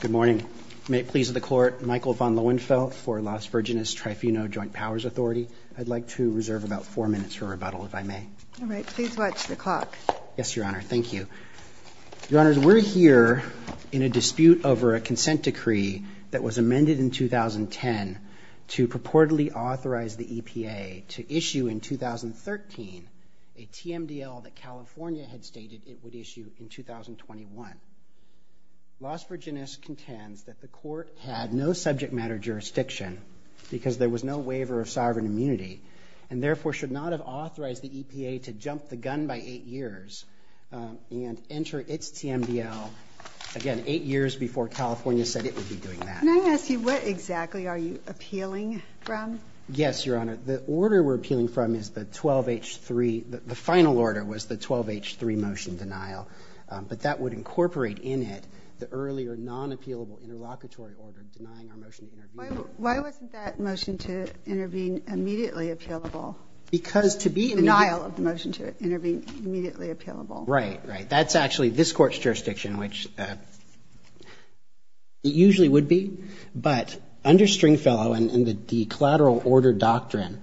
Good morning. May it please the Court, Michael von Lohenfeld for Las Virginas Trifuno Joint Powers Authority. I'd like to reserve about four minutes for rebuttal, if I may. All right, please watch the clock. Yes, Your Honor. Thank you. Your Honors, we're here in a dispute over a consent decree that was amended in 2010 to purportedly authorize the EPA to issue in 2013 a TMDL that California had stated it would issue in 2021. Las Virginas contends that the Court had no subject matter jurisdiction because there was no waiver of sovereign immunity and therefore should not have authorized the EPA to jump the gun by eight years and enter its TMDL, again, eight years before California said it would be doing that. Can I ask you what exactly are you appealing from? Yes, Your Honor. The order we're appealing from is the 12H3, the final order was the 12H3 motion denial, but that would incorporate in it the earlier non-appealable interlocutory order denying our motion to intervene. Why wasn't that motion to intervene immediately appealable? Because to be immediately appealable. Denial of the motion to intervene immediately appealable. Right, right. That's actually this Court's jurisdiction, which it usually would be. But under Stringfellow and the collateral order doctrine,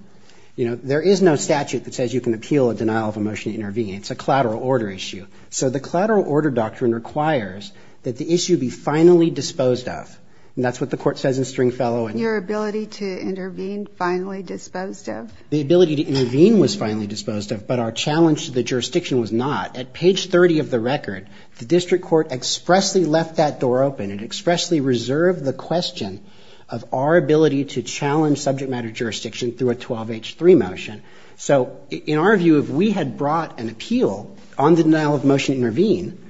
you know, there is no denial of a motion to intervene. It's a collateral order issue. So the collateral order doctrine requires that the issue be finally disposed of. And that's what the Court says in Stringfellow. Your ability to intervene finally disposed of? The ability to intervene was finally disposed of, but our challenge to the jurisdiction was not. At page 30 of the record, the District Court expressly left that door open. It expressly reserved the question of our ability to challenge had brought an appeal on the denial of motion to intervene,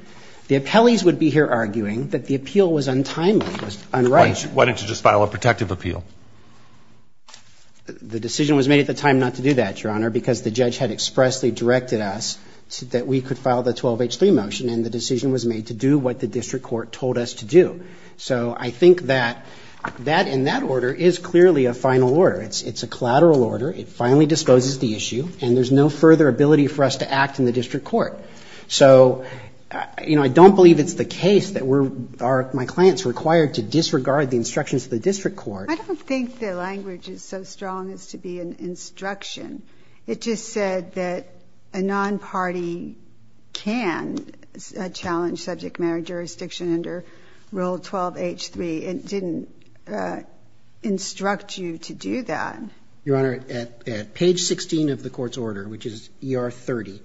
the appellees would be here arguing that the appeal was untimely, was unrighteous. Why didn't you just file a protective appeal? The decision was made at the time not to do that, Your Honor, because the judge had expressly directed us that we could file the 12H3 motion, and the decision was made to do what the District Court told us to do. So I think that that and that order is clearly a final order. It's a collateral order. It finally disposes the issue, and there's no further ability for us to act in the District Court. So, you know, I don't believe it's the case that we're or my client's required to disregard the instructions of the District Court. I don't think the language is so strong as to be an instruction. It just said that a nonparty can challenge subject matter jurisdiction under Rule 12H3. It didn't instruct you to do that. Your Honor, at page 16 of the Court's order, which is ER30,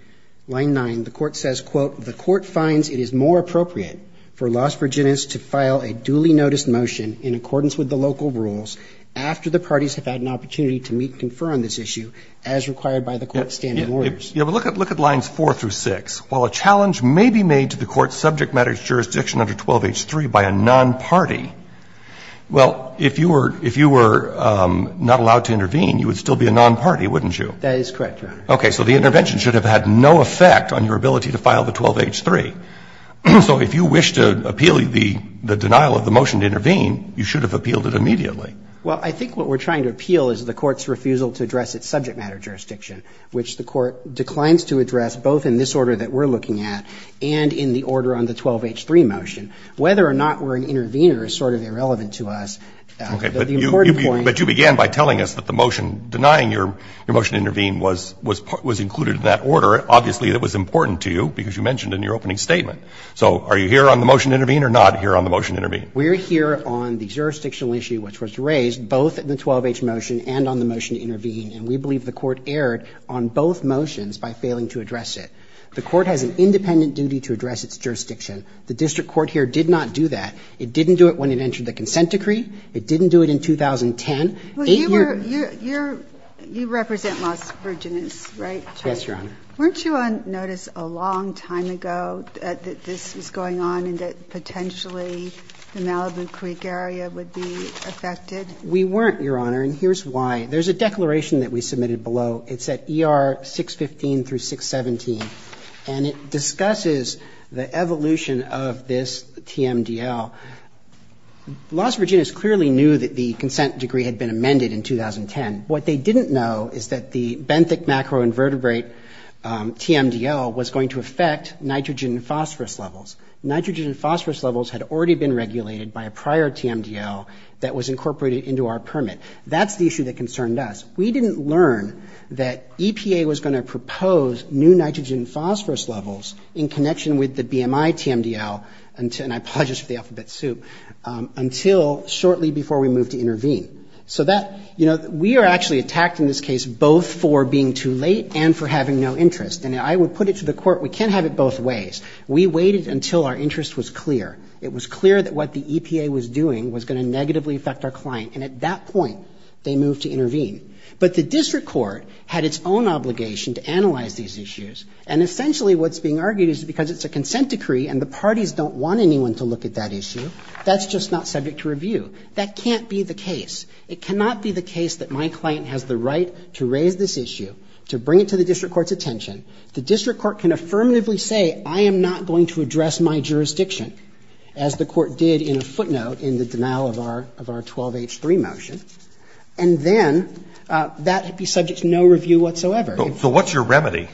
line 9, the Court says, quote, the Court finds it is more appropriate for Las Virginias to file a duly noticed motion in accordance with the local rules after the parties have had an opportunity to meet and confer on this issue as required by the Court's standing orders. Look at lines 4 through 6. While a challenge may be made to the Court's subject matter jurisdiction under 12H3 by a nonparty, well, if you were not allowed to intervene, you would still be a nonparty, wouldn't you? That is correct, Your Honor. Okay. So the intervention should have had no effect on your ability to file the 12H3. So if you wish to appeal the denial of the motion to intervene, you should have appealed it immediately. Well, I think what we're trying to appeal is the Court's refusal to address its subject matter jurisdiction, which the Court declines to address both in this order that we're looking at and in the order on the 12H3 motion. Whether or not we're an intervener Okay. But the important point is that the motion is not relevant to us. The motion denying your motion to intervene was included in that order. Obviously, it was important to you because you mentioned in your opening statement. So are you here on the motion to intervene or not here on the motion to intervene? We're here on the jurisdictional issue, which was raised both in the 12H motion and on the motion to intervene, and we believe the Court erred on both motions by failing to address it. The Court has an independent duty to address its jurisdiction. The district court here did not do that. It didn't do it when it entered the consent decree. It didn't do it in 2010. Well, you were you're you represent Las Virginas, right? Yes, Your Honor. Weren't you on notice a long time ago that this was going on and that potentially the Malibu Creek area would be affected? We weren't, Your Honor, and here's why. There's a declaration that we submitted below. It's at ER 615 through 617, and it discusses the evolution of this TMDL. Las Virginas clearly knew that the consent decree had been amended in 2010. What they didn't know is that the benthic macroinvertebrate TMDL was going to affect nitrogen and phosphorus levels. Nitrogen and phosphorus levels had already been regulated by a prior TMDL that was incorporated into our permit. That's the issue that concerned us. We didn't learn that EPA was going to propose new nitrogen and phosphorus levels in connection with the BMI TMDL, and I apologize for the alphabet soup, until shortly before we moved to intervene. So that, you know, we are actually attacked in this case both for being too late and for having no interest. And I would put it to the court, we can't have it both ways. We waited until our interest was clear. It was clear that what the EPA was doing was going to negatively affect our client, and at that point, they moved to intervene. But the district court had its own obligation to analyze these issues, and essentially what's being argued is because it's a consent decree and the parties don't want anyone to look at that issue, that's just not subject to review. That can't be the case. It cannot be the case that my client has the right to raise this issue, to bring it to the district court's attention. The district court can affirmatively say I am not going to address my jurisdiction, as the court did in a footnote in the denial of our 12H3 motion, and then that would be subject to no review whatsoever. So what's your remedy?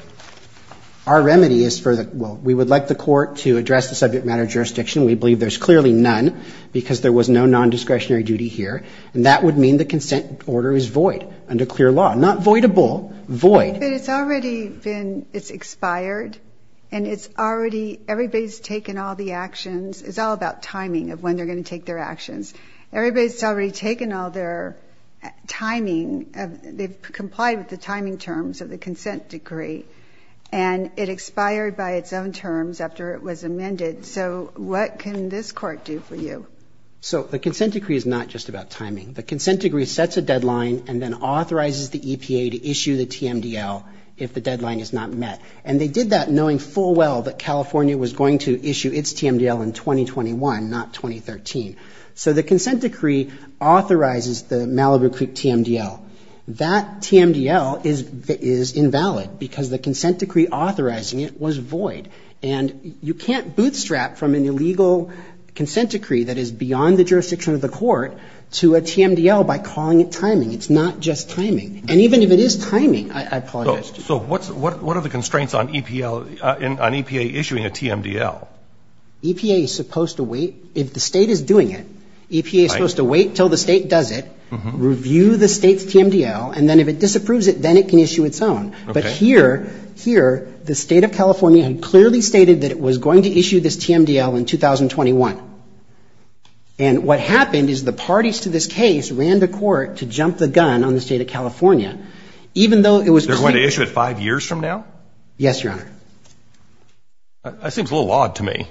Our remedy is for the, well, we would like the court to address the subject matter jurisdiction. We believe there's clearly none, because there was no nondiscretionary duty here, and that would mean the consent order is void under clear law. Not voidable, void. But it's already been, it's expired, and it's already, everybody's taken all the actions, it's all about timing of when they're going to take their actions. Everybody's already taken all their timing, they've complied with the timing terms of the consent decree, and it expired by its own terms after it was amended. So what can this court do for you? So the consent decree is not just about timing. The consent decree sets a deadline and then authorizes the EPA to issue the TMDL if the deadline is not met. And they did that knowing full well that California was going to issue its TMDL in 2021, not 2013. So the consent decree authorizes the Malibu Creek TMDL. That TMDL is invalid, because the consent decree authorizing it was void. And you can't bootstrap from an illegal consent decree that is beyond the jurisdiction of the court to a TMDL by calling it timing. It's not just timing. And even if it is timing, I apologize. So what are the constraints on EPA issuing a TMDL? EPA is supposed to wait, if the state is doing it, EPA is supposed to wait until the And then if it disapproves it, then it can issue its own. But here, here, the state of California had clearly stated that it was going to issue this TMDL in 2021. And what happened is the parties to this case ran to court to jump the gun on the state of California, even though it was going to issue it five years from now. Yes, Your Honor. That seems a little odd to me.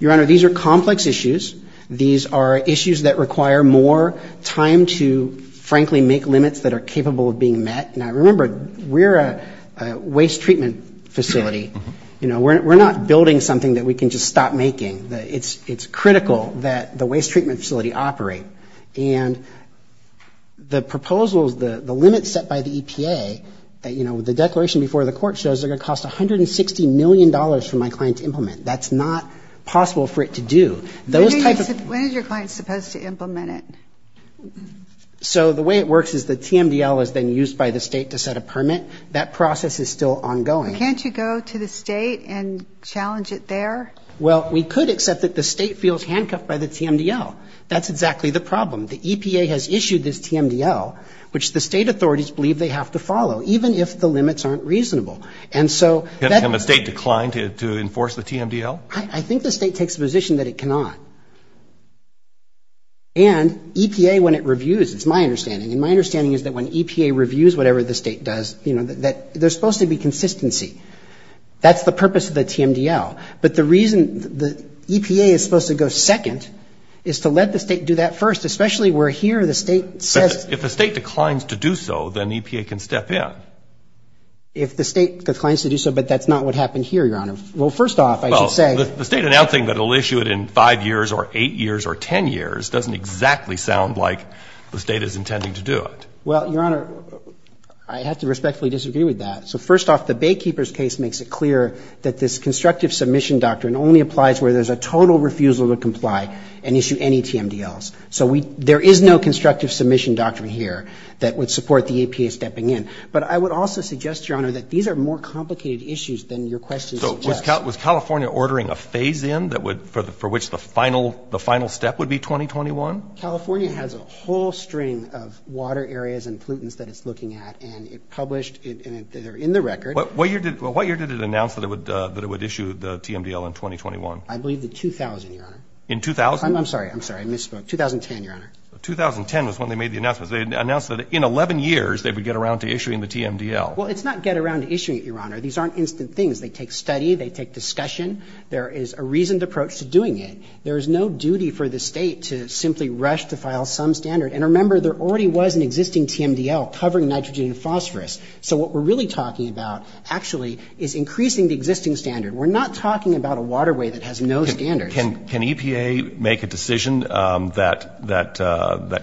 Your Honor, these are complex issues. These are issues that require more time to, frankly, make limits that are capable of being met. Now, remember, we're a waste treatment facility. You know, we're not building something that we can just stop making. It's critical that the waste treatment facility operate. And the proposals, the limits set by the EPA, you know, the declaration before the court shows they're going to cost $160 million for my client to implement. That's not possible for it to do. When is your client supposed to implement it? So the way it works is the TMDL is then used by the state to set a permit. That process is still ongoing. Can't you go to the state and challenge it there? Well, we could accept that the state feels handcuffed by the TMDL. That's exactly the problem. The EPA has issued this TMDL, which the state authorities believe they have to follow, even if the limits aren't reasonable. And so... Can the state decline to enforce the TMDL? I think the state takes the position that it cannot. And EPA, when it reviews, it's my understanding, and my understanding is that when EPA reviews whatever the state does, you know, that there's supposed to be consistency. That's the purpose of the TMDL. But the reason the EPA is supposed to go second is to let the state do that first, especially where here the state says... If the state declines to do so, then EPA can step in. If the state declines to do so, but that's not what happened here, Your Honor. Well, first off, I should say... Well, the state announcing that it'll issue it in five years or eight years or ten years doesn't exactly sound like the state is intending to do it. Well, Your Honor, I have to respectfully disagree with that. So first off, the Baykeeper's case makes it clear that this constructive submission doctrine only applies where there's a total refusal to comply and issue any TMDLs. So there is no constructive submission doctrine here that would support the EPA stepping in. But I would also suggest, Your Honor, that these are more complicated issues than your question suggests. So was California ordering a phase-in for which the final step would be 2021? California has a whole string of water areas and pollutants that it's looking at, and it published... They're in the record. What year did it announce that it would issue the TMDL in 2021? I believe the 2000, Your Honor. In 2000? I'm sorry. I misspoke. 2010, Your Honor. 2010 was when they made the announcement. They announced that in 11 years they would get around to issuing the TMDL. Well, it's not get around to issuing it, Your Honor. These aren't instant things. They take study. They take discussion. There is a reasoned approach to doing it. There is no duty for the state to simply rush to file some standard. And remember, there already was an existing TMDL covering nitrogen and phosphorus. So what we're really talking about, actually, is increasing the existing standard. We're not talking about a waterway that has no standard. Can EPA make a decision that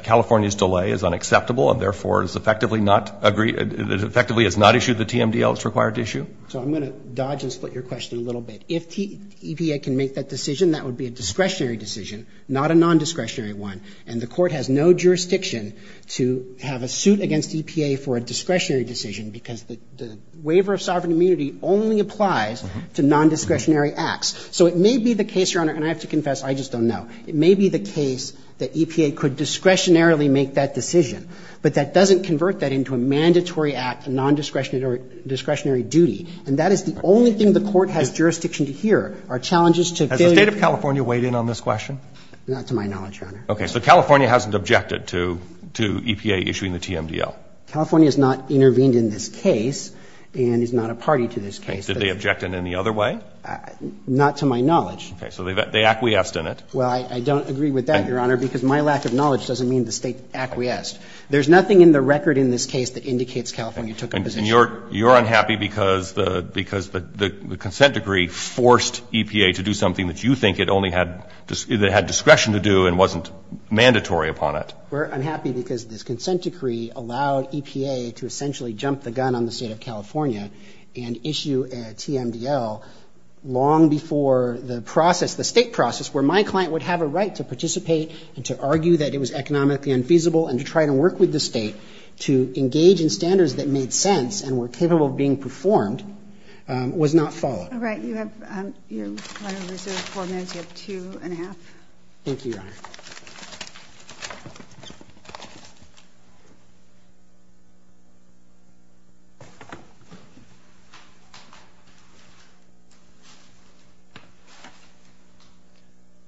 California's delay is unacceptable and therefore is effectively not agreed, effectively has not issued the TMDL it's required to issue? So I'm going to dodge and split your question a little bit. If EPA can make that decision, that would be a discretionary decision, not a nondiscretionary one. And the court has no jurisdiction to have a suit against EPA for a discretionary decision because the waiver of sovereign immunity only applies to nondiscretionary acts. So it may be the case, Your Honor, and I have to confess, I just don't know. It may be the case that EPA could discretionarily make that decision, but that doesn't convert that into a mandatory act, a nondiscretionary duty. And that is the only thing the court has jurisdiction to hear, are challenges to failure. Has the State of California weighed in on this question? Not to my knowledge, Your Honor. Okay. So California hasn't objected to EPA issuing the TMDL? California has not intervened in this case and is not a party to this case. Did they object in any other way? Not to my knowledge. Okay. So they acquiesced in it. Well, I don't agree with that, Your Honor, because my lack of knowledge doesn't mean the State acquiesced. There's nothing in the record in this case that indicates California took a position. And you're unhappy because the consent decree forced EPA to do something that you think it only had discretion to do and wasn't mandatory upon it? We're unhappy because this consent decree allowed EPA to essentially jump the gun on the State of California and issue a TMDL long before the process, the State process, where my client would have a right to participate and to argue that it was economically unfeasible and to try to work with the State to engage in standards that made sense and were capable of being performed, was not followed. All right. You have, you're kind of reserved four minutes. You have two and a half. Thank you, Your Honor.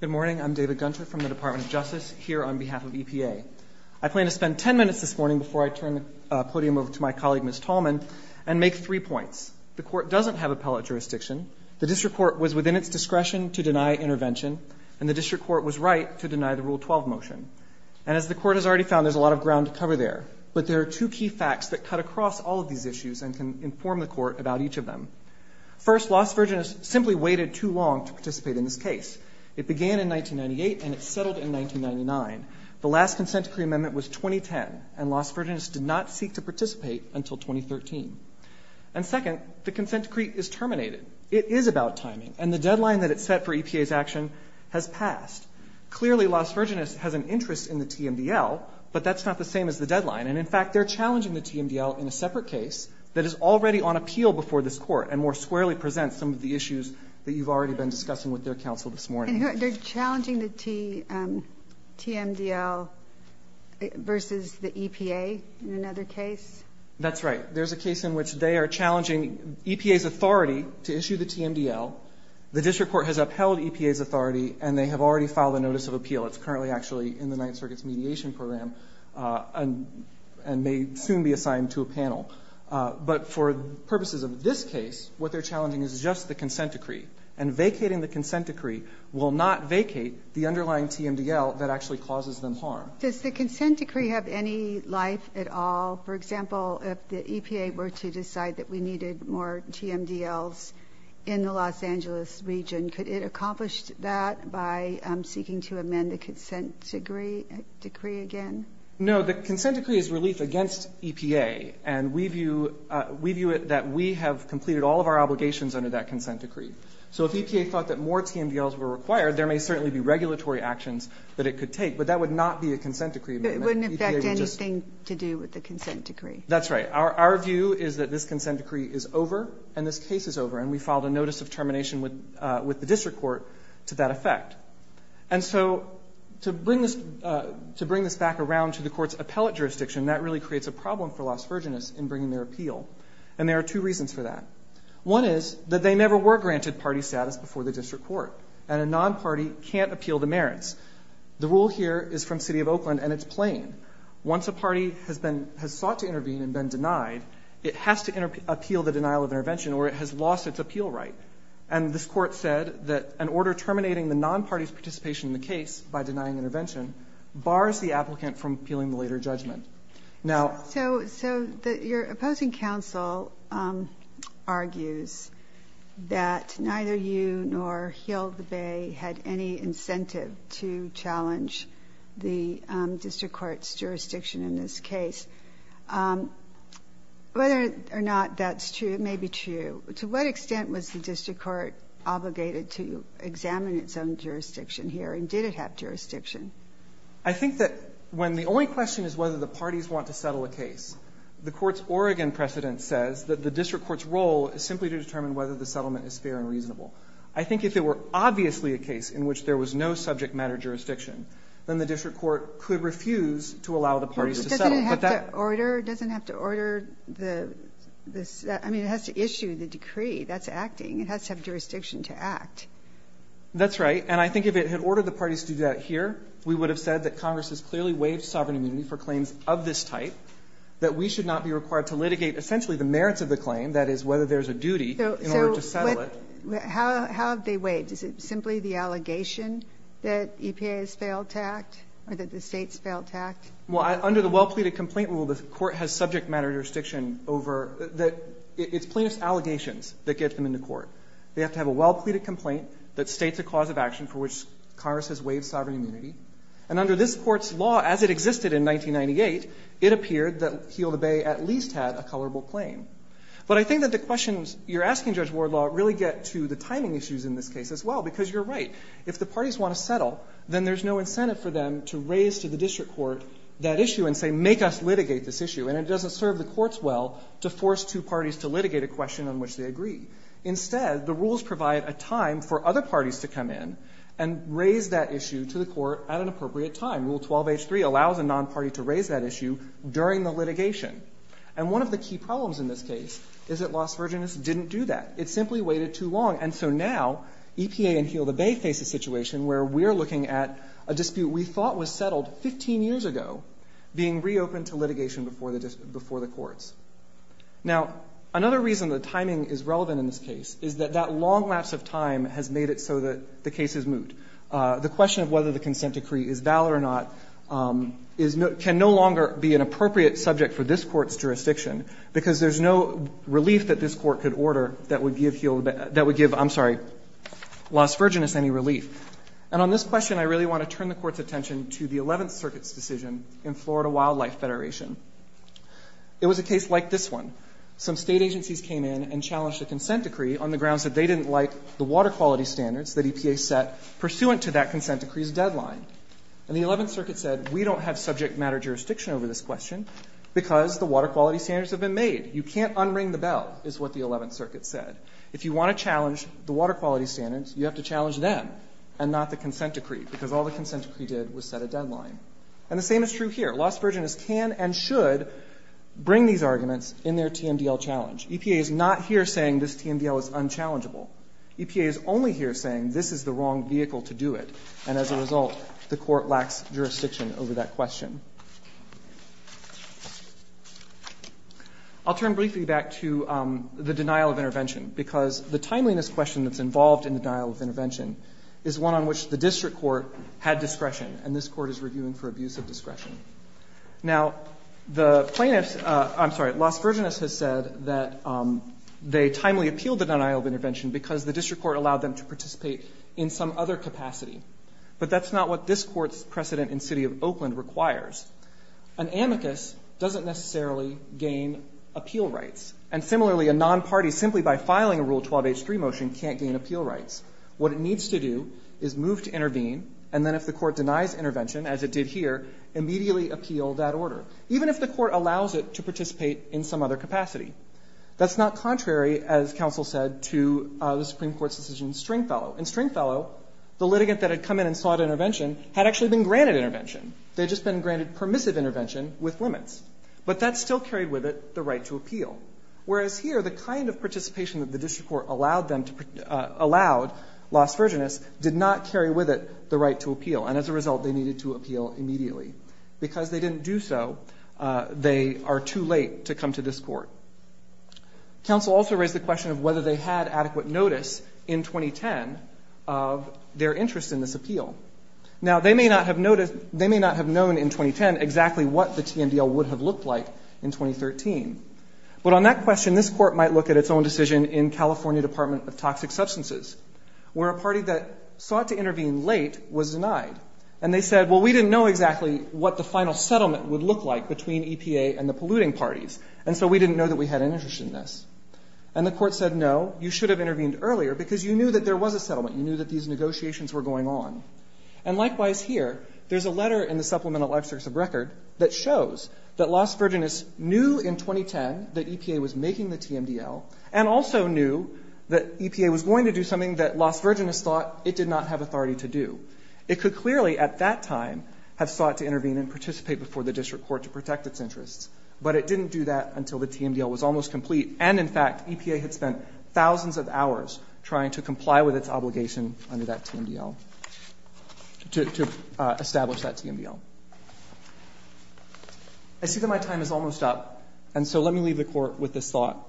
Good morning. I'm David Gunter from the Department of Justice here on behalf of EPA. I plan to spend 10 minutes this morning before I turn the podium over to my colleague, Ms. Tallman, and make three points. The court doesn't have appellate jurisdiction. The district court was within its discretion to deny intervention, and the district court was right to deny the Rule 12 motion. And as the court has already found, there's a lot of ground to cover there. But there are two key facts that cut across all of these issues and can inform the court about each of them. First, Las Vergenas simply waited too long to participate in this case. It began in 1998, and it settled in 1999. The last consent decree amendment was 2010, and Las Vergenas did not seek to participate until 2013. And second, the consent decree is terminated. It is about timing, and the deadline that it set for EPA's action has passed. Clearly, Las Vergenas has an interest in the TMDL, but that's not the same as the deadline. And in fact, they're challenging the TMDL in a separate case that is already on appeal before this court, and more squarely presents some of the issues that you've already been discussing with their counsel this morning. They're challenging the TMDL versus the EPA in another case? That's right. There's a case in which they are challenging EPA's authority to issue the TMDL. The district court has upheld EPA's authority, and they have already filed a notice of appeal. It's currently actually in the Ninth Circuit's mediation program, and may soon be assigned to a panel. But for purposes of this case, what they're challenging is just the consent decree. And vacating the consent decree will not vacate the underlying TMDL that actually causes them harm. Does the consent decree have any life at all? For example, if the EPA were to decide that we needed more TMDLs in the Los Angeles region, could it accomplish that by seeking to amend the consent decree again? No, the consent decree is relief against EPA. And we view it that we have completed all of our obligations under that consent decree. So if EPA thought that more TMDLs were required, there may certainly be regulatory actions that it could take. But that would not be a consent decree amendment. It wouldn't affect anything to do with the consent decree. That's right. Our view is that this consent decree is over, and this case is over. And we filed a notice of termination with the district court to that effect. And so to bring this back around to the court's appellate jurisdiction, that really creates a problem for Las Vergenas in bringing their appeal. And there are two reasons for that. One is that they never were granted party status before the district court. And a non-party can't appeal the merits. The rule here is from City of Oakland, and it's plain. Once a party has sought to intervene and been denied, it has to appeal the denial of intervention or it has lost its appeal right. And this court said that an order terminating the non-party's participation in the case by denying intervention bars the applicant from appealing the later judgment. Now- So your opposing counsel argues that neither you nor Heald the Bay had any incentive to challenge the district court's jurisdiction in this case. Whether or not that's true, it may be true. To what extent was the district court obligated to examine its own jurisdiction here, and did it have jurisdiction? I think that when the only question is whether the parties want to settle a case, the court's Oregon precedent says that the district court's role is simply to determine whether the settlement is fair and reasonable. I think if it were obviously a case in which there was no subject matter jurisdiction, then the district court could refuse to allow the parties to settle. But that- But doesn't it have to order the, I mean, it has to issue the decree. That's acting. It has to have jurisdiction to act. That's right. And I think if it had ordered the parties to do that here, we would have said that Congress has clearly waived sovereign immunity for claims of this type. That we should not be required to litigate essentially the merits of the claim, that is, whether there's a duty in order to settle it. How have they waived? Is it simply the allegation that EPA has failed to act, or that the state's failed to act? Well, under the well-pleaded complaint rule, the court has subject matter jurisdiction over, it's plaintiff's allegations that get them into court. They have to have a well-pleaded complaint that states a cause of action for which Congress has waived sovereign immunity. And under this court's law, as it existed in 1998, it appeared that Heal the Bay at least had a colorable claim. But I think that the questions you're asking, Judge Wardlaw, really get to the timing issues in this case as well, because you're right. If the parties want to settle, then there's no incentive for them to raise to the district court that issue and say, make us litigate this issue. And it doesn't serve the courts well to force two parties to litigate a question on which they agree. Instead, the rules provide a time for other parties to come in and raise that issue to the court at an appropriate time. Rule 12H3 allows a non-party to raise that issue during the litigation. And one of the key problems in this case is that Las Virginas didn't do that. It simply waited too long. And so now, EPA and Heal the Bay face a situation where we're looking at a dispute we thought was settled 15 years ago being reopened to litigation before the courts. Now, another reason the timing is relevant in this case is that that long lapse of time has made it so that the case is moot. The question of whether the consent decree is valid or not can no longer be an appropriate subject for this court's jurisdiction, because there's no relief that this court could order that would give Las Virginas any relief. And on this question, I really want to turn the court's attention to the 11th Circuit's decision in Florida Wildlife Federation. It was a case like this one. Some state agencies came in and challenged a consent decree on the grounds that they didn't like the water quality standards that EPA set pursuant to that consent decree's deadline. And the 11th Circuit said, we don't have subject matter jurisdiction over this question because the water quality standards have been made. You can't unring the bell, is what the 11th Circuit said. If you want to challenge the water quality standards, you have to challenge them and not the consent decree, because all the consent decree did was set a deadline. And the same is true here. Las Virginas can and should bring these arguments in their TMDL challenge. EPA is not here saying this TMDL is unchallengeable. EPA is only here saying this is the wrong vehicle to do it. And as a result, the court lacks jurisdiction over that question. I'll turn briefly back to the denial of intervention, because the timeliness question that's involved in the denial of intervention is one on which the district Now, the plaintiffs, I'm sorry, Las Virginas has said that they timely appealed the denial of intervention because the district court allowed them to participate in some other capacity. But that's not what this court's precedent in the city of Oakland requires. An amicus doesn't necessarily gain appeal rights. And similarly, a non-party simply by filing a Rule 12H3 motion can't gain appeal rights. What it needs to do is move to intervene, and then if the court denies intervention, as it did here, immediately appeal that order, even if the court allows it to participate in some other capacity. That's not contrary, as counsel said, to the Supreme Court's decision in Stringfellow. In Stringfellow, the litigant that had come in and sought intervention had actually been granted intervention. They'd just been granted permissive intervention with limits. But that still carried with it the right to appeal. Whereas here, the kind of participation that the district court allowed Las Virginas did not carry with it the right to appeal. And as a result, they needed to appeal immediately. Because they didn't do so, they are too late to come to this court. Counsel also raised the question of whether they had adequate notice in 2010 of their interest in this appeal. Now, they may not have noticed, they may not have known in 2010 exactly what the TNDL would have looked like in 2013. But on that question, this court might look at its own decision in California Department of Toxic Substances, where a party that sought to intervene late was denied. And they said, well, we didn't know exactly what the final settlement would look like between EPA and the polluting parties. And so we didn't know that we had an interest in this. And the court said, no, you should have intervened earlier because you knew that there was a settlement. You knew that these negotiations were going on. And likewise here, there's a letter in the Supplemental Extracts of Record that shows that Las Vergenas knew in 2010 that EPA was making the TNDL and also knew that EPA was going to do something that Las Vergenas thought it did not have authority to do. It could clearly at that time have sought to intervene and participate before the district court to protect its interests. But it didn't do that until the TNDL was almost complete. And in fact, EPA had spent thousands of hours trying to comply with its obligation under that TNDL, to establish that TNDL. I see that my time is almost up. And so let me leave the court with this thought.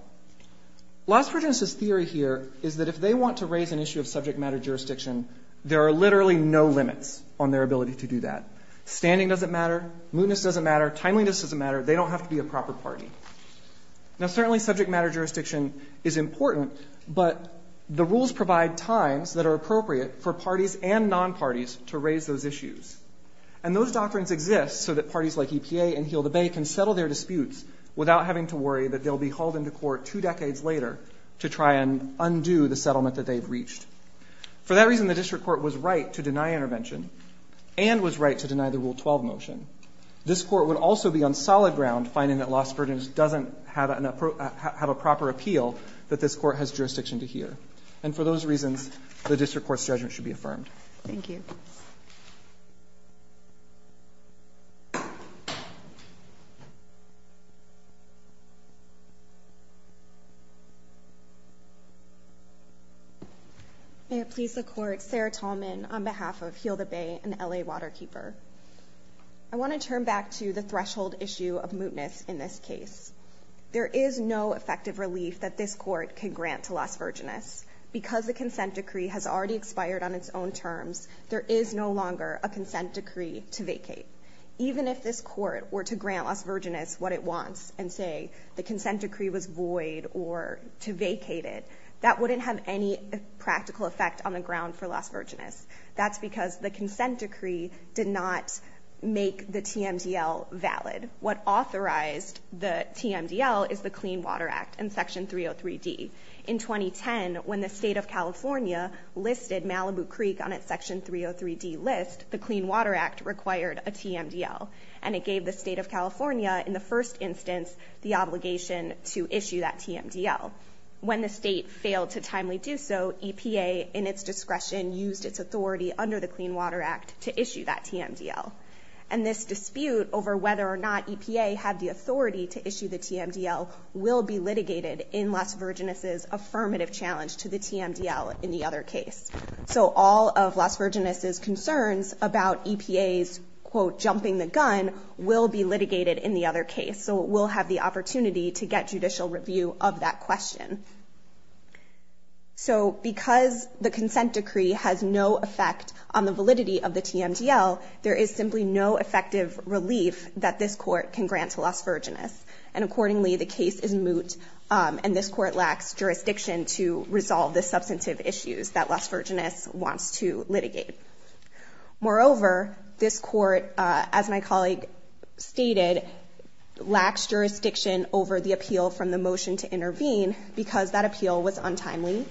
Las Vergenas' theory here is that if they want to raise an issue of subject matter jurisdiction, there are literally no limits on their ability to do that. Standing doesn't matter. Mootness doesn't matter. Timeliness doesn't matter. They don't have to be a proper party. Now, certainly subject matter jurisdiction is important, but the rules provide times that are appropriate for parties and non-parties to raise those issues. And those doctrines exist so that parties like EPA and Heal the Bay can settle their disputes without having to worry that they'll be hauled into court two decades later to try and undo the settlement that they've reached. For that reason, the district court was right to deny intervention and was right to deny the Rule 12 motion. This court would also be on solid ground finding that Las Vergenas doesn't have a proper appeal that this court has jurisdiction to hear. And for those reasons, the district court's judgment should be affirmed. Thank you. May it please the court, Sarah Tallman on behalf of Heal the Bay and LA Waterkeeper. I want to turn back to the threshold issue of mootness in this case. There is no effective relief that this court can grant to Las Vergenas. Because the consent decree has already expired on its own terms, there is no longer a consent decree to vacate. Even if this court were to grant Las Vergenas what it wants and say the consent decree was void or to vacate it, that wouldn't have any practical effect on the ground for Las Vergenas. That's because the consent decree did not make the TMDL valid. What authorized the TMDL is the Clean Water Act and Section 303D. In 2010, when the state of California listed Malibu Creek on its Section 303D list, the Clean Water Act required a TMDL. And it gave the state of California, in the first instance, the obligation to issue that TMDL. When the state failed to timely do so, EPA, in its discretion, used its authority under the Clean Water Act to issue that TMDL. And this dispute over whether or not EPA had the authority to issue the TMDL will be litigated in Las Vergenas' affirmative challenge to the TMDL in the other case. So all of Las Vergenas' concerns about EPA's, quote, jumping the gun, will be litigated in the other case. So it will have the opportunity to get judicial review of that question. So because the consent decree has no effect on the validity of the TMDL, there is simply no effective relief that this court can grant to Las Vergenas. And accordingly, the case is moot, and this court lacks jurisdiction to resolve the substantive issues that Las Vergenas wants to litigate. Moreover, this court, as my colleague stated, lacks jurisdiction over the appeal from the motion to intervene because that appeal was untimely,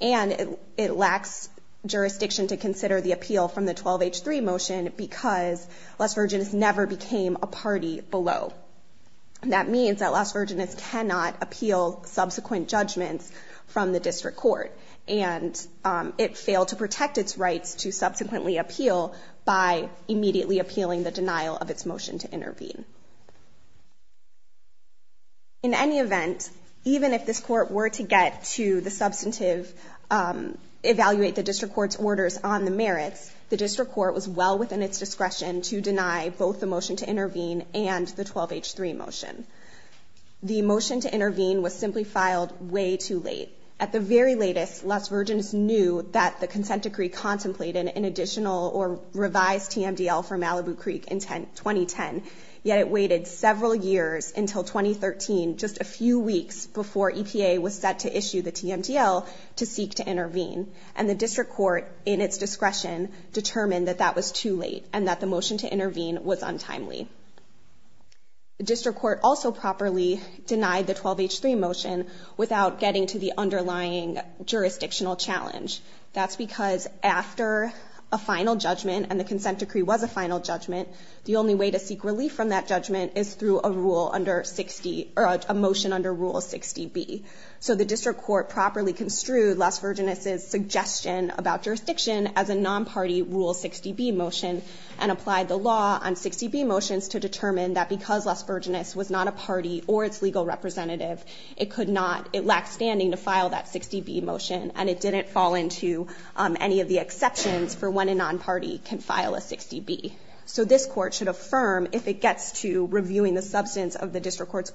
and it lacks jurisdiction to consider the appeal from the 12H3 motion because Las Vergenas never became a party below. That means that Las Vergenas cannot appeal subsequent judgments from the district court, and it failed to protect its rights to subsequently appeal by immediately appealing the denial of its motion to intervene. In any event, even if this court were to get to the substantive, evaluate the district court's orders on the merits, the district court was well within its discretion to deny both the motion to intervene and the 12H3 motion. The motion to intervene was simply filed way too late. At the very latest, Las Vergenas knew that the consent decree contemplated an additional or revised TMDL for Malibu Creek in 2010, yet it waited several years until 2013, just a few weeks before EPA was set to issue the TMDL to seek to intervene. And the district court, in its discretion, determined that that was too late and that the motion to intervene was untimely. The district court also properly denied the 12H3 motion without getting to the underlying jurisdictional challenge. That's because after a final judgment, and the consent decree was a final judgment, the only way to seek relief from that judgment is through a rule under 60, or a motion under Rule 60B. So the district court properly construed Las Vergenas' suggestion about jurisdiction as a non-party Rule 60B motion, and applied the law on 60B motions to determine that because Las Vergenas was not a party or its legal representative, it could not, it lacked standing to file that 60B motion, and it didn't fall into any of the exceptions for when a non-party can file a 60B. So this court should affirm, if it gets to reviewing the substance of the district court's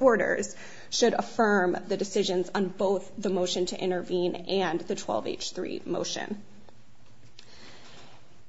should affirm the decisions on both the motion to intervene and the 12H3 motion.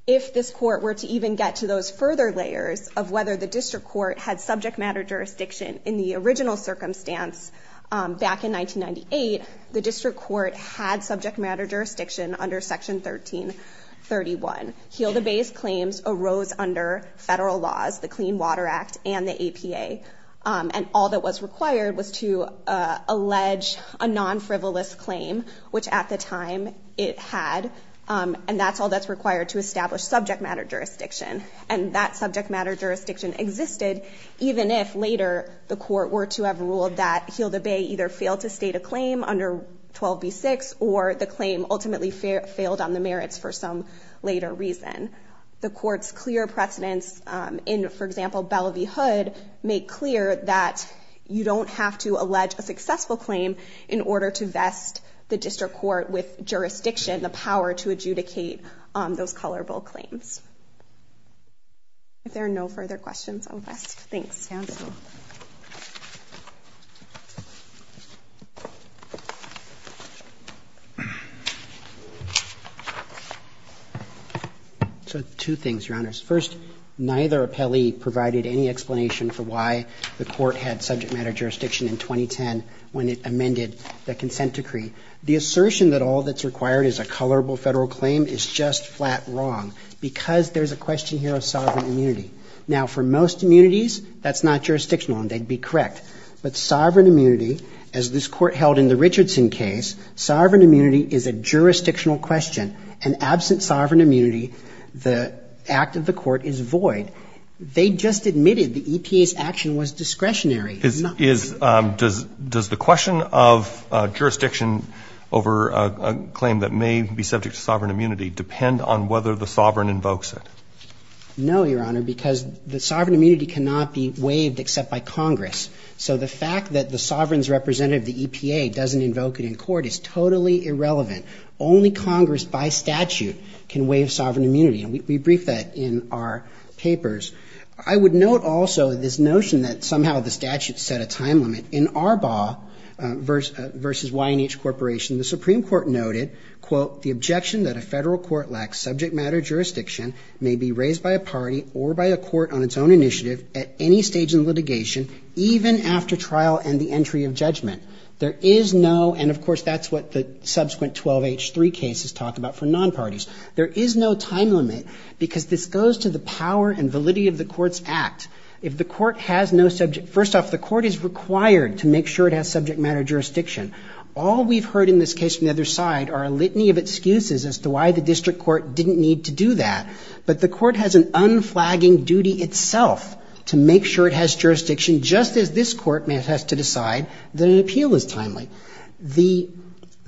If this court were to even get to those further layers of whether the district court had subject matter jurisdiction in the original circumstance back in 1998, the district court had subject matter jurisdiction under Section 1331. Heal the Bay's claims arose under federal laws, the Clean Water Act and the APA, and all that was required was to allege a non-frivolous claim, which at the time it had, and that's all that's required to establish subject matter jurisdiction. And that subject matter jurisdiction existed even if later the court were to have ruled that Heal the Bay either failed to state a claim under 12B6, or the claim ultimately failed on the merits for some later reason. The court's clear precedents in, for example, Belle v. Hood, make clear that you don't have to allege a successful claim in order to vest the district court with jurisdiction, the power to adjudicate those colorable claims. If there are no further questions, I'll rest. Thanks. Two things, Your Honors. First, neither appellee provided any explanation for why the court had subject matter jurisdiction in 2010 when it amended the consent decree. The assertion that all that's required is a colorable federal claim is just flat wrong because there's a question here of sovereign immunity. Now, for most immunities, that's not jurisdictional and they'd be correct, but sovereign immunity, as this court held in the Richardson case, sovereign immunity is a jurisdictional question and absent sovereign immunity, the act of the court is void. They just admitted the EPA's action was discretionary. Is, does the question of jurisdiction over a claim that may be subject to sovereign immunity depend on whether the sovereign invokes it? No, Your Honor, because the sovereign immunity cannot be waived except by Congress. So the fact that the sovereign's representative of the EPA doesn't invoke it in court is totally irrelevant. Only Congress, by statute, can waive sovereign immunity, and we briefed that in our papers. I would note also this notion that somehow the statute set a time limit. In Arbaugh versus YNH Corporation, the Supreme Court noted, quote, the objection that a federal court lacks subject matter jurisdiction may be raised by a party or by a court on its own initiative at any stage in litigation, even after trial and the entry of judgment. There is no, and of course, that's what the subsequent 12H3 cases talk about for non-parties. There is no time limit, because this goes to the power and validity of the court's act. If the court has no subject, first off, the court is required to make sure it has subject matter jurisdiction. All we've heard in this case from the other side are a litany of excuses as to why the district court didn't need to do that, but the court has an unflagging duty itself to make sure it has jurisdiction, just as this court has to decide that an appeal is timely.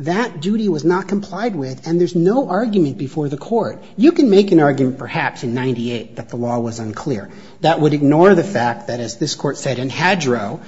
That duty was not complied with, and there's no argument before the court. You can make an argument, perhaps, in 98 that the law was unclear. That would ignore the fact that, as this Court said in Hadro,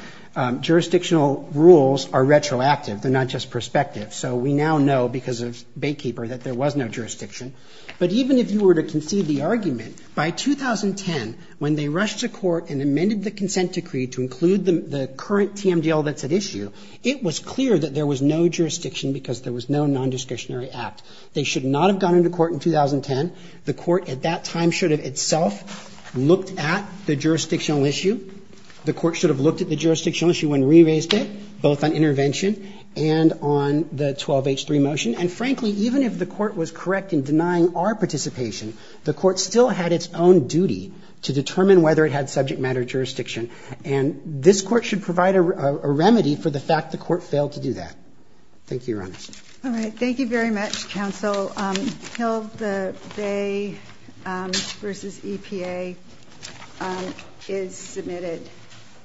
jurisdictional rules are retroactive. They're not just prospective. So we now know, because of Baykeeper, that there was no jurisdiction. But even if you were to concede the argument, by 2010, when they rushed to court and amended the consent decree to include the current TMDL that's at issue, it was clear that there was no jurisdiction because there was no nondiscretionary act. They should not have gone into court in 2010. The court at that time should have itself looked at the jurisdictional issue. The court should have looked at the jurisdictional issue and re-raised it, both on intervention and on the 12H3 motion. And frankly, even if the court was correct in denying our participation, the court still had its own duty to determine whether it had subject matter jurisdiction. And this court should provide a remedy for the fact the court failed to do that. Thank you, Your Honor. All right. Thank you very much, counsel. Hill, the Bay v. EPA is submitted.